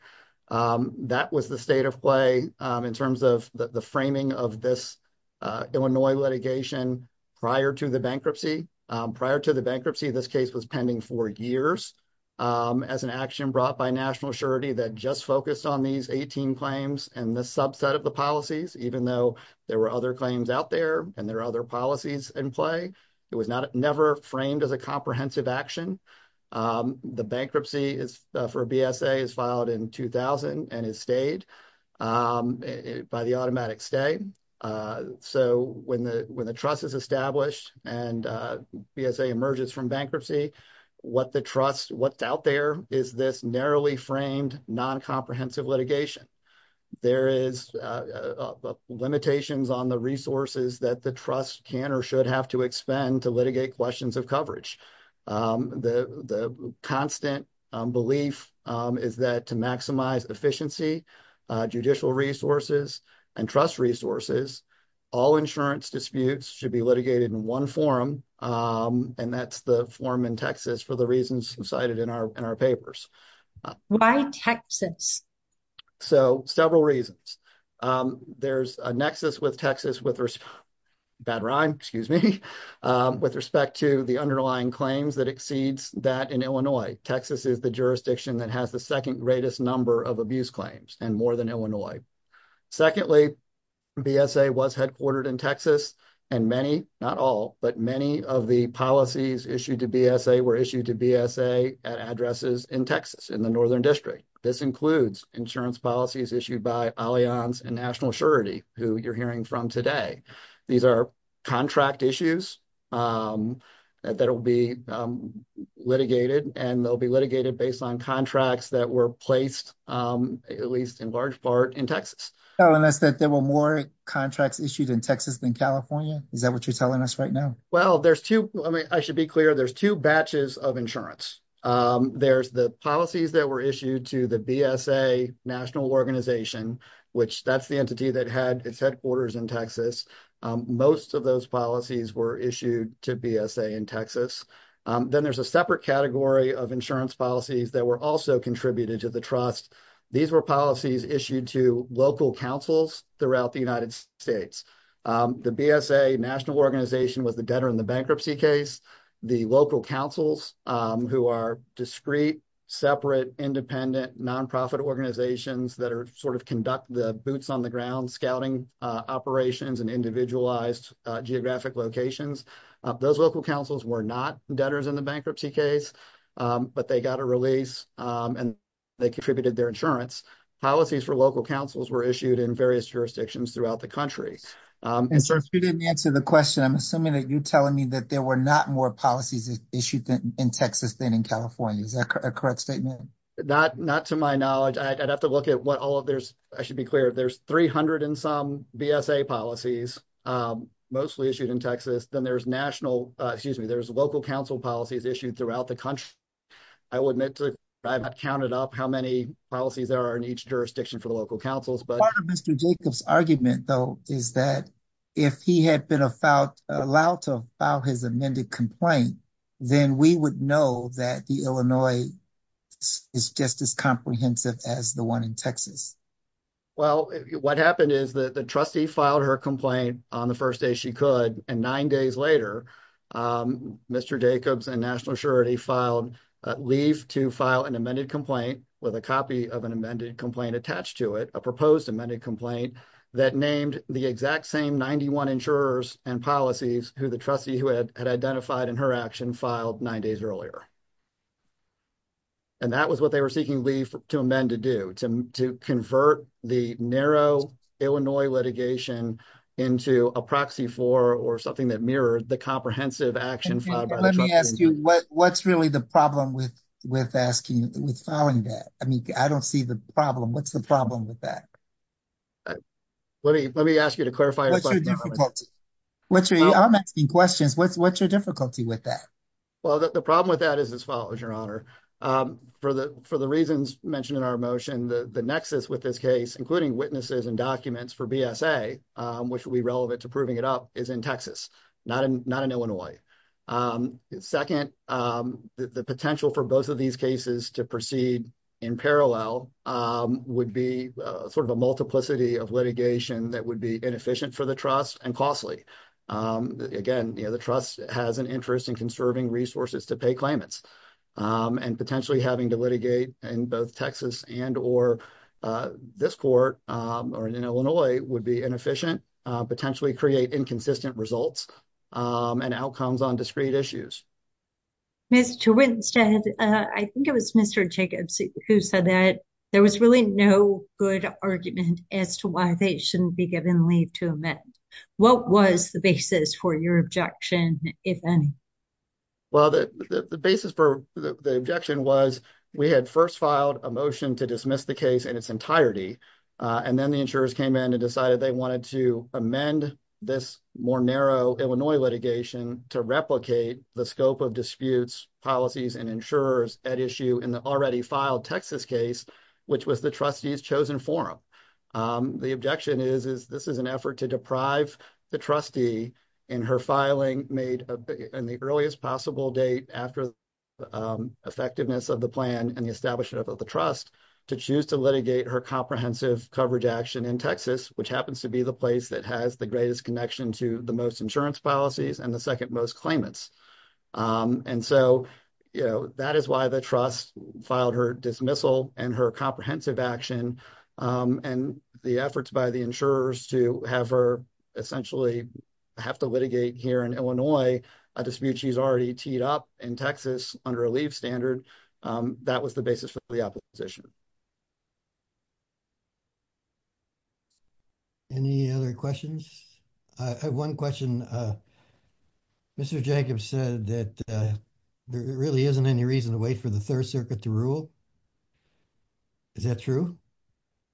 That was the state of play in terms of the framing of this Illinois litigation prior to the bankruptcy. Prior to the bankruptcy, this case was pending for years as an action brought by national that just focused on these 18 claims and the subset of the policies, even though there were other claims out there and there are other policies in play. It was never framed as a comprehensive action. The bankruptcy for BSA is filed in 2000 and is stayed by the automatic stay. So when the trust is established and BSA emerges from bankruptcy, what the trust, what's out there is this narrowly framed, non-comprehensive litigation. There is limitations on the resources that the trust can or should have to expend to litigate questions of coverage. The constant belief is that to maximize efficiency, judicial resources, and trust resources, all insurance disputes should be litigated in one forum. And that's the forum in Texas for the reasons cited in our papers. Why Texas? So several reasons. There's a nexus with Texas with respect to the underlying claims that exceeds that in Texas is the jurisdiction that has the second greatest number of abuse claims and more than Illinois. Secondly, BSA was headquartered in Texas and many, not all, but many of the policies issued to BSA were issued to BSA at addresses in Texas in the northern district. This includes insurance policies issued by Allianz and National Assurity, who you're hearing from today. These are contract issues that will be litigated and they'll be litigated based on contracts that were placed, at least in large part, in Texas. Telling us that there were more contracts issued in Texas than California? Is that what you're telling us right now? Well, there's two, I should be clear, there's two batches of insurance. There's the policies that were issued to the BSA National Organization, which that's the entity that had its headquarters in Texas. Most of those policies were issued to BSA in Texas. Then there's a separate category of insurance policies that were also contributed to the trust. These were policies issued to local councils throughout the United States. The BSA National Organization was the debtor in the bankruptcy case. The local councils, who are discrete, separate, independent, non-profit organizations that sort of conduct the boots on the ground scouting operations and individualized geographic locations. Those local councils were not debtors in the bankruptcy case, but they got a release and they contributed their insurance. Policies for local councils were issued in various jurisdictions throughout the country. Since you didn't answer the question, I'm assuming that you're telling me that there were not more policies issued in Texas than in California. Is that a correct statement? Not to my knowledge. I'd have to look at what all of there's, I should be clear, there's 300 and some BSA policies, mostly issued in Texas. Then there's national, excuse me, there's local council policies issued throughout the country. I would admit to, I've not counted up how many policies there are in each jurisdiction for the local councils. Part of Mr. Jacob's argument though, is that if he had been allowed to file his amended complaint, then we would know that the Illinois is just as comprehensive as the one in Texas. Well, what happened is that the trustee filed her complaint on the first day she could, and nine days later, Mr. Jacobs and national surety filed leave to file an amended complaint with a copy of an amended complaint attached to it, a proposed amended complaint that named the exact same 91 insurers and policies who the trustee who had identified in her action filed nine days earlier. And that was what they were seeking leave to amend to do, to convert the narrow Illinois litigation into a proxy for, or something that mirrored the comprehensive action filed by the trustee. Let me ask you, what's really the problem with asking, with filing that? I mean, I don't see the problem. What's the problem with that? Let me ask you to clarify. What's your difficulty? What's your, I'm asking questions, what's your difficulty with that? Well, the problem with that is as follows, your honor, for the reasons mentioned in our motion, the nexus with this case, including witnesses and documents for BSA, which will be relevant to proving it up is in Texas, not in Illinois. Second, the potential for both of these cases to proceed in parallel would be sort of a multiplicity of litigation that would be inefficient for the trust and costly. Again, you know, the trust has an interest in conserving resources to pay claimants and potentially having to litigate in both Texas and or this court or in Illinois would be inefficient, potentially create inconsistent results and outcomes on discrete issues. Ms. Twinsted, I think it was Mr. Jacobs who said that there was really no good argument as to why they shouldn't be given leave to amend. What was the basis for your objection, if any? Well, the basis for the objection was we had first filed a motion to dismiss the case in its entirety and then the insurers came in and decided they wanted to amend this more narrow Illinois litigation to replicate the scope of disputes policies and insurers at issue in the already filed Texas case, which was the trustees chosen forum. The objection is, is this is an effort to deprive the trustee in her filing made in the earliest possible date after the effectiveness of the plan and the establishment of the trust to choose to litigate her comprehensive coverage action in Texas, which happens to be the place that has the greatest connection to the most insurance policies and the second most claimants. And so, you know, that is why the trust filed her dismissal and her comprehensive action and the efforts by the insurers to have her essentially have to litigate here in Illinois a dispute she's already teed up in Texas under a leave standard. That was the basis for the opposition. Any other questions? I have one question. Mr. Jacobs said that there really isn't any reason to wait for the Third Circuit to rule. Is that true?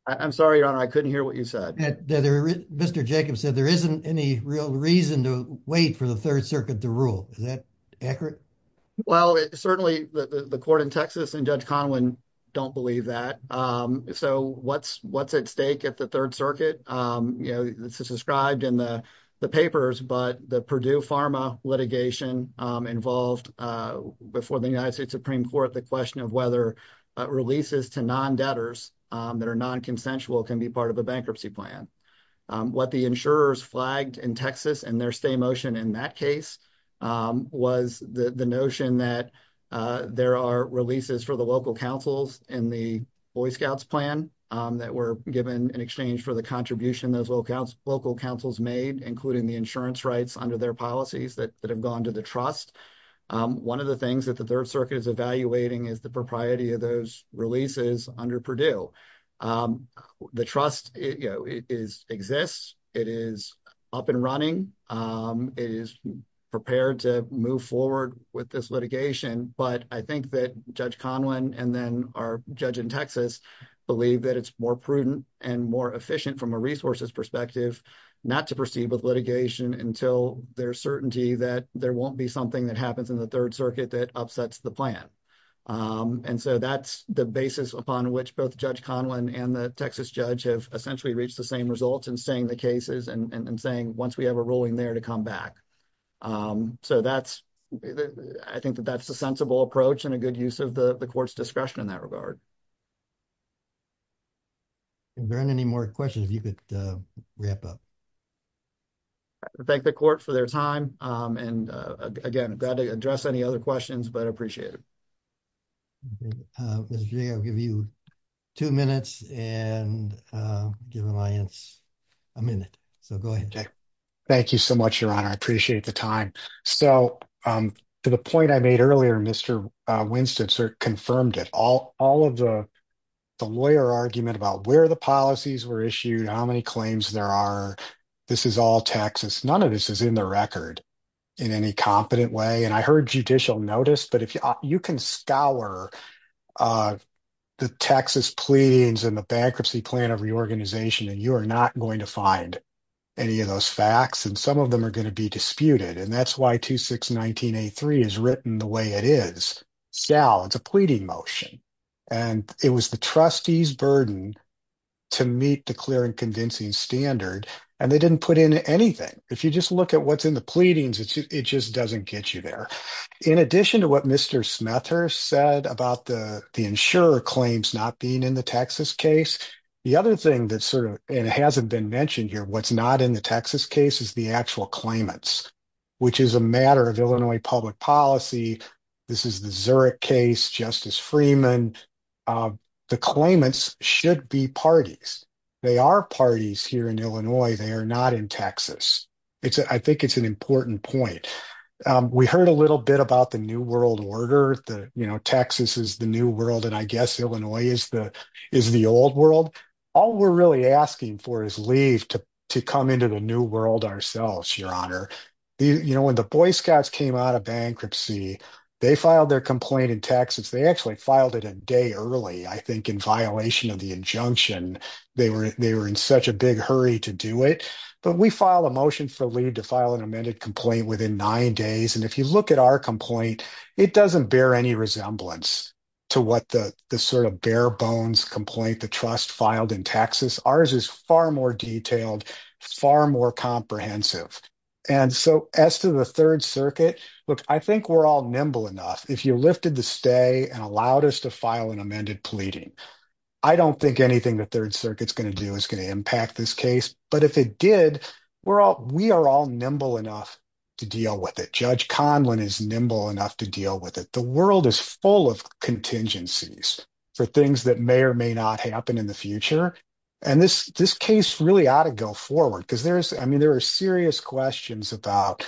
I'm sorry, your honor. I couldn't hear what you said. There, Mr. Jacobs said there isn't any real reason to wait for the Third Circuit to rule. Is that accurate? Well, certainly the court in Texas and Judge Conway don't believe that. So what's what's at stake at the Third Circuit? You know, this is described in the papers, but the Purdue Pharma litigation involved before the United States Supreme Court, the question of releases to non-debtors that are non-consensual can be part of a bankruptcy plan. What the insurers flagged in Texas and their stay motion in that case was the notion that there are releases for the local councils in the Boy Scouts plan that were given in exchange for the contribution those local councils made, including the insurance rights under their policies that have gone to the trust. One of the things that the Third Circuit is evaluating is propriety of those releases under Purdue. The trust exists. It is up and running. It is prepared to move forward with this litigation. But I think that Judge Conway and then our judge in Texas believe that it's more prudent and more efficient from a resources perspective not to proceed with litigation until there's certainty that there won't be something that happens in the Third Circuit that upsets the plan. And so that's the basis upon which both Judge Conway and the Texas judge have essentially reached the same results in staying the cases and saying once we have a ruling there to come back. So that's, I think that that's a sensible approach and a good use of the court's discretion in that regard. Is there any more questions you could wrap up? I thank the court for their time and again glad to address any other questions but appreciate it. Mr. Jay, I'll give you two minutes and give Alliance a minute. So go ahead, Jay. Thank you so much, Your Honor. I appreciate the time. So to the point I made earlier, Mr. Winston sort of confirmed it. All of the lawyer argument about where the policies were issued, how many claims there are, this is all Texas. None of this is in the record in any competent way and I heard judicial notice but if you can scour the Texas pleadings and the bankruptcy plan of reorganization and you are not going to find any of those facts and some of them are going to be disputed and that's why 2619A3 is written the way it is. Scal, it's a pleading motion and it was the trustee's burden to meet the clear and convincing standard and they didn't put in anything. If you just look at what's in the pleadings, it just doesn't get you there. In addition to what Mr. Smethurst said about the insurer claims not being in the Texas case, the other thing that sort of hasn't been mentioned here, what's not in the Texas case is the actual claimants which is a matter of Illinois public policy. This is the Zurich case, Justice Freeman, the claimants should be parties. They are parties here in Illinois, they are not in Texas. I think it's an important point. We heard a little bit about the new world order, that Texas is the new world and I guess Illinois is the old world. All we're really asking for is leave to come into the new world ourselves, your honor. When the Boy Scouts came out of bankruptcy, they filed their complaint in Texas. They actually filed it a day early, I think in violation of the injunction. They were in such a big hurry to do it. We filed a motion for leave to file an amended complaint within nine days. If you look at our complaint, it doesn't bear any resemblance to what the sort of bare bones complaint the trust filed in Texas. Ours is far detailed, far more comprehensive. As to the Third Circuit, I think we're all nimble enough. If you lifted the stay and allowed us to file an amended pleading, I don't think anything the Third Circuit is going to do is going to impact this case. If it did, we are all nimble enough to deal with it. Judge Conlin is nimble enough to deal with it. The world is full of contingencies for things that may or may not happen in the future. This case really ought to go forward. There are serious questions about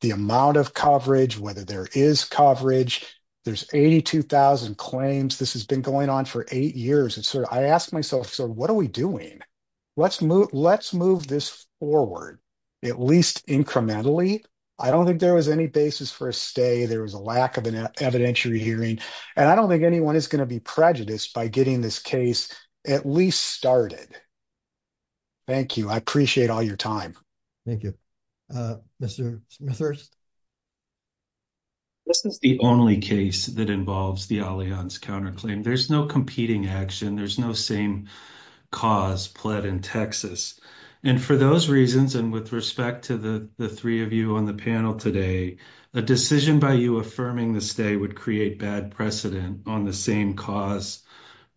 the amount of coverage, whether there is coverage. There's 82,000 claims. This has been going on for eight years. I ask myself, what are we doing? Let's move this forward, at least incrementally. I don't think there was any basis for a stay. There was a lack of an evidentiary hearing. I don't think anyone is going to be prejudiced by getting this case at least started. Thank you. I appreciate all your time. Thank you. Mr. Smithers? This is the only case that involves the Allianz counterclaim. There's no competing action. There's no same cause pled in Texas. For those reasons, and with respect to the three of you on the panel today, a decision by you affirming the stay would create bad precedent on the same cause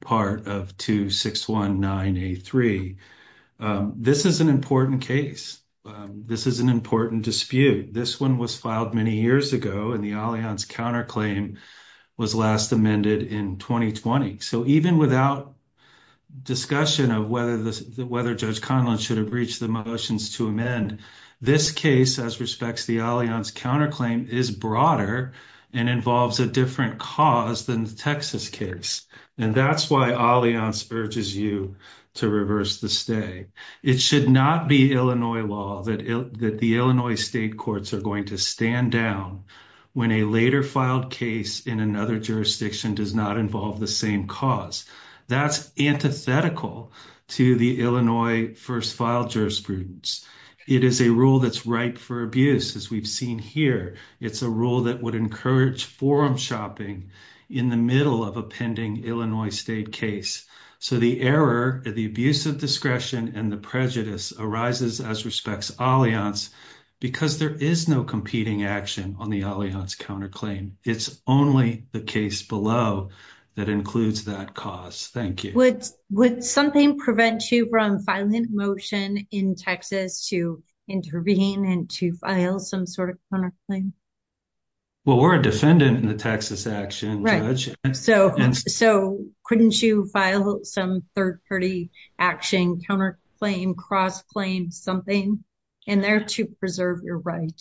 part of 2619A3. This is an important case. This is an important dispute. This one was filed many years ago, and the Allianz counterclaim was last amended in 2020. So even without discussion of whether Judge Conlin should have reached the motions to amend, this case, as respects to the Allianz counterclaim, is broader and involves a different cause than the Texas case. That's why Allianz urges you to reverse the stay. It should not be Illinois law that the Illinois state courts are going to stand down when a later filed case in another jurisdiction does not involve the same cause. That's antithetical to the Illinois first file jurisprudence. It is a rule that's ripe for abuse, as we've seen here. It's a rule that would encourage forum shopping in the middle of a pending Illinois state case. So the error, the abuse of discretion, and the prejudice arises, as respects Allianz, because there is no competing action on the Allianz counterclaim. It's only the case below that includes that cause. Thank you. Would something prevent you from filing a motion in Texas to intervene and to file some sort of counterclaim? Well, we're a defendant in the Texas action, Judge. So couldn't you file some third-party action, counterclaim, cross-claim, something in there to preserve your right?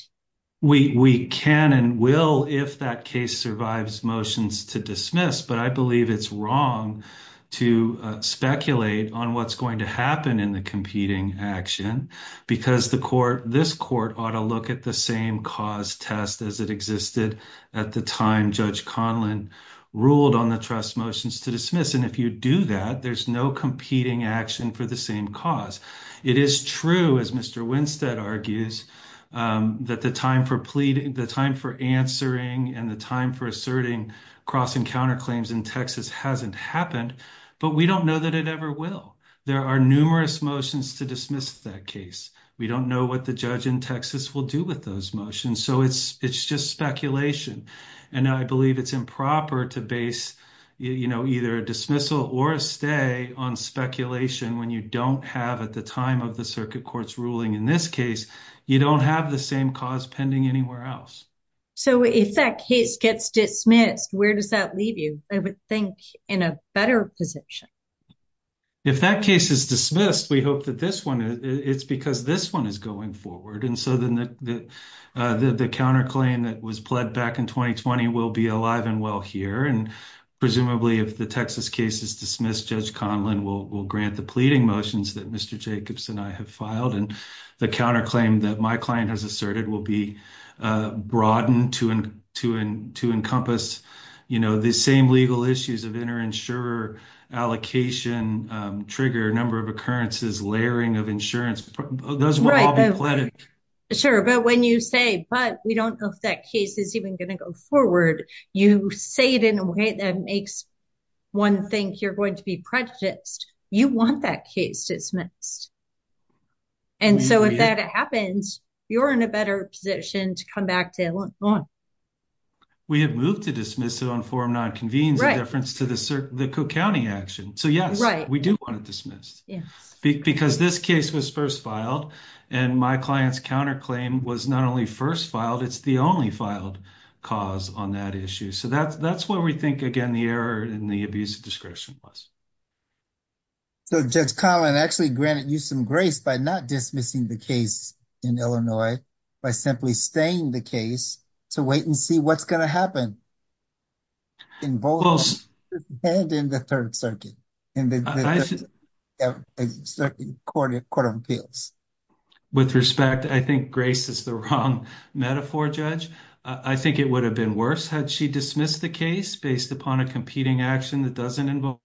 We can and will if that case survives motions to dismiss, but I believe it's wrong to speculate on what's going to happen in the competing action because this court ought to look at the same cause test as it existed at the time Judge Conlin ruled on the trust motions to dismiss. And if you do that, there's no competing action for the same cause. It is true, as Mr. Conlin said, that the time for pleading, the time for answering, and the time for asserting cross and counterclaims in Texas hasn't happened, but we don't know that it ever will. There are numerous motions to dismiss that case. We don't know what the judge in Texas will do with those motions. So it's just speculation. And I believe it's improper to base either a dismissal or a stay on speculation when you don't have, at the time of the circuit court's ruling in this case, you don't have the same cause pending anywhere else. So if that case gets dismissed, where does that leave you? I would think in a better position. If that case is dismissed, we hope that this one, it's because this one is going forward. And so the counterclaim that was pled back in 2020 will be alive and well here. And presumably if the Texas case is dismissed, Judge Conlin will grant the pleading motions that Mr. Jacobs and I have and the counterclaim that my client has asserted will be broadened to encompass the same legal issues of inter-insurer allocation, trigger, number of occurrences, layering of insurance. Those will all be pleaded. Sure. But when you say, but we don't know if that case is even going to go forward, you say it in a way that makes one think you're going to be prejudiced. You want that case dismissed. And so if that happens, you're in a better position to come back to it. We have moved to dismiss it on forum non-convenes, a difference to the Cook County action. So yes, we do want it dismissed because this case was first filed and my client's counterclaim was not only first filed, it's the only filed cause on that issue. So that's what we think, again, the error in the abuse of discretion was. So Judge Conlin actually granted you some grace by not dismissing the case in Illinois, by simply staying the case to wait and see what's going to happen. In both, and in the third circuit, in the court of appeals. With respect, I think grace is the wrong metaphor, Judge. I think it would have been worse had she dismissed the case based upon a competing action that doesn't involve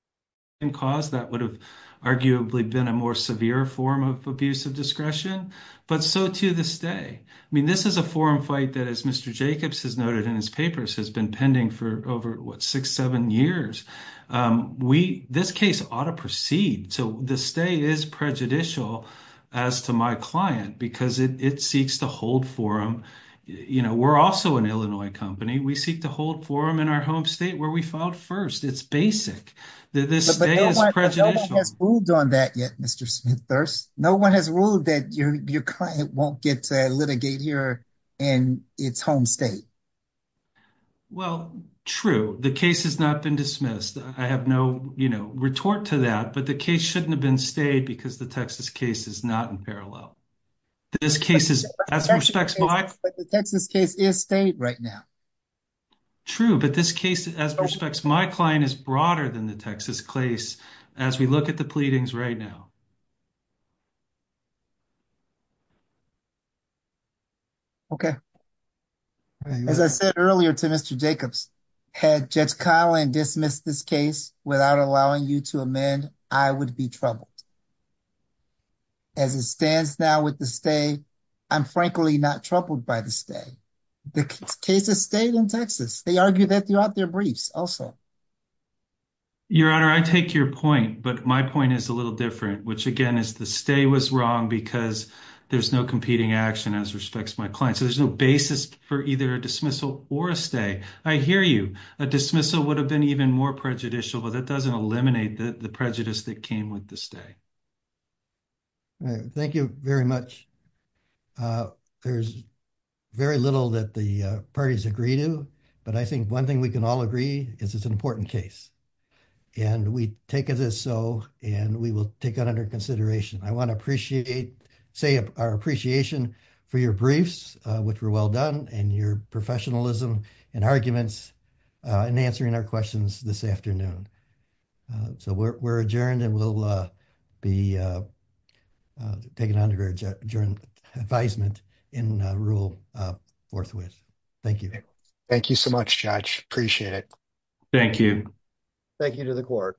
the same cause. That would have arguably been a more severe form of abuse of discretion. But so to this day, I mean, this is a forum fight that, as Mr. Jacobs has noted in his papers, has been pending for over, what, six, seven years. This case ought to proceed. So the stay is prejudicial as to my client because it seeks to hold forum. We're also an Illinois company. We seek to hold forum in our home state where we filed first. It's basic. This stay is prejudicial. But no one has ruled on that yet, Mr. Smith-Thurst. No one has ruled that your client won't get to litigate here in its home state. Well, true. The case has not been dismissed. I have no retort to that, but the case shouldn't have been stayed because the Texas case is not in parallel. The Texas case is stayed right now. True, but this case, as respects my client, is broader than the Texas case as we look at the pleadings right now. Okay. As I said earlier to Mr. Jacobs, had Judge Conlin dismissed this case without allowing you to amend, I would be troubled. As it stands now with the stay, I'm frankly not troubled by the stay. The case is stayed in Texas. They argue that throughout their briefs also. Your Honor, I take your point, but my point is a little different, which again is the stay was wrong because there's no competing action as respects my client. So there's no basis for either a dismissal or a stay. I hear you. A dismissal would have been even more prejudicial, but that doesn't eliminate the prejudice that came with the stay. All right. Thank you very much. There's very little that the parties agree to, but I think one thing we can all agree is it's an important case, and we take it as so, and we will take it under consideration. I want to say our appreciation for your briefs, which were well done, and your professionalism and arguments in answering our questions this afternoon. So we're adjourned, and we'll be taken under adjourned advisement in rule forthwith. Thank you. Thank you so much, Judge. Appreciate it. Thank you. Thank you to the court.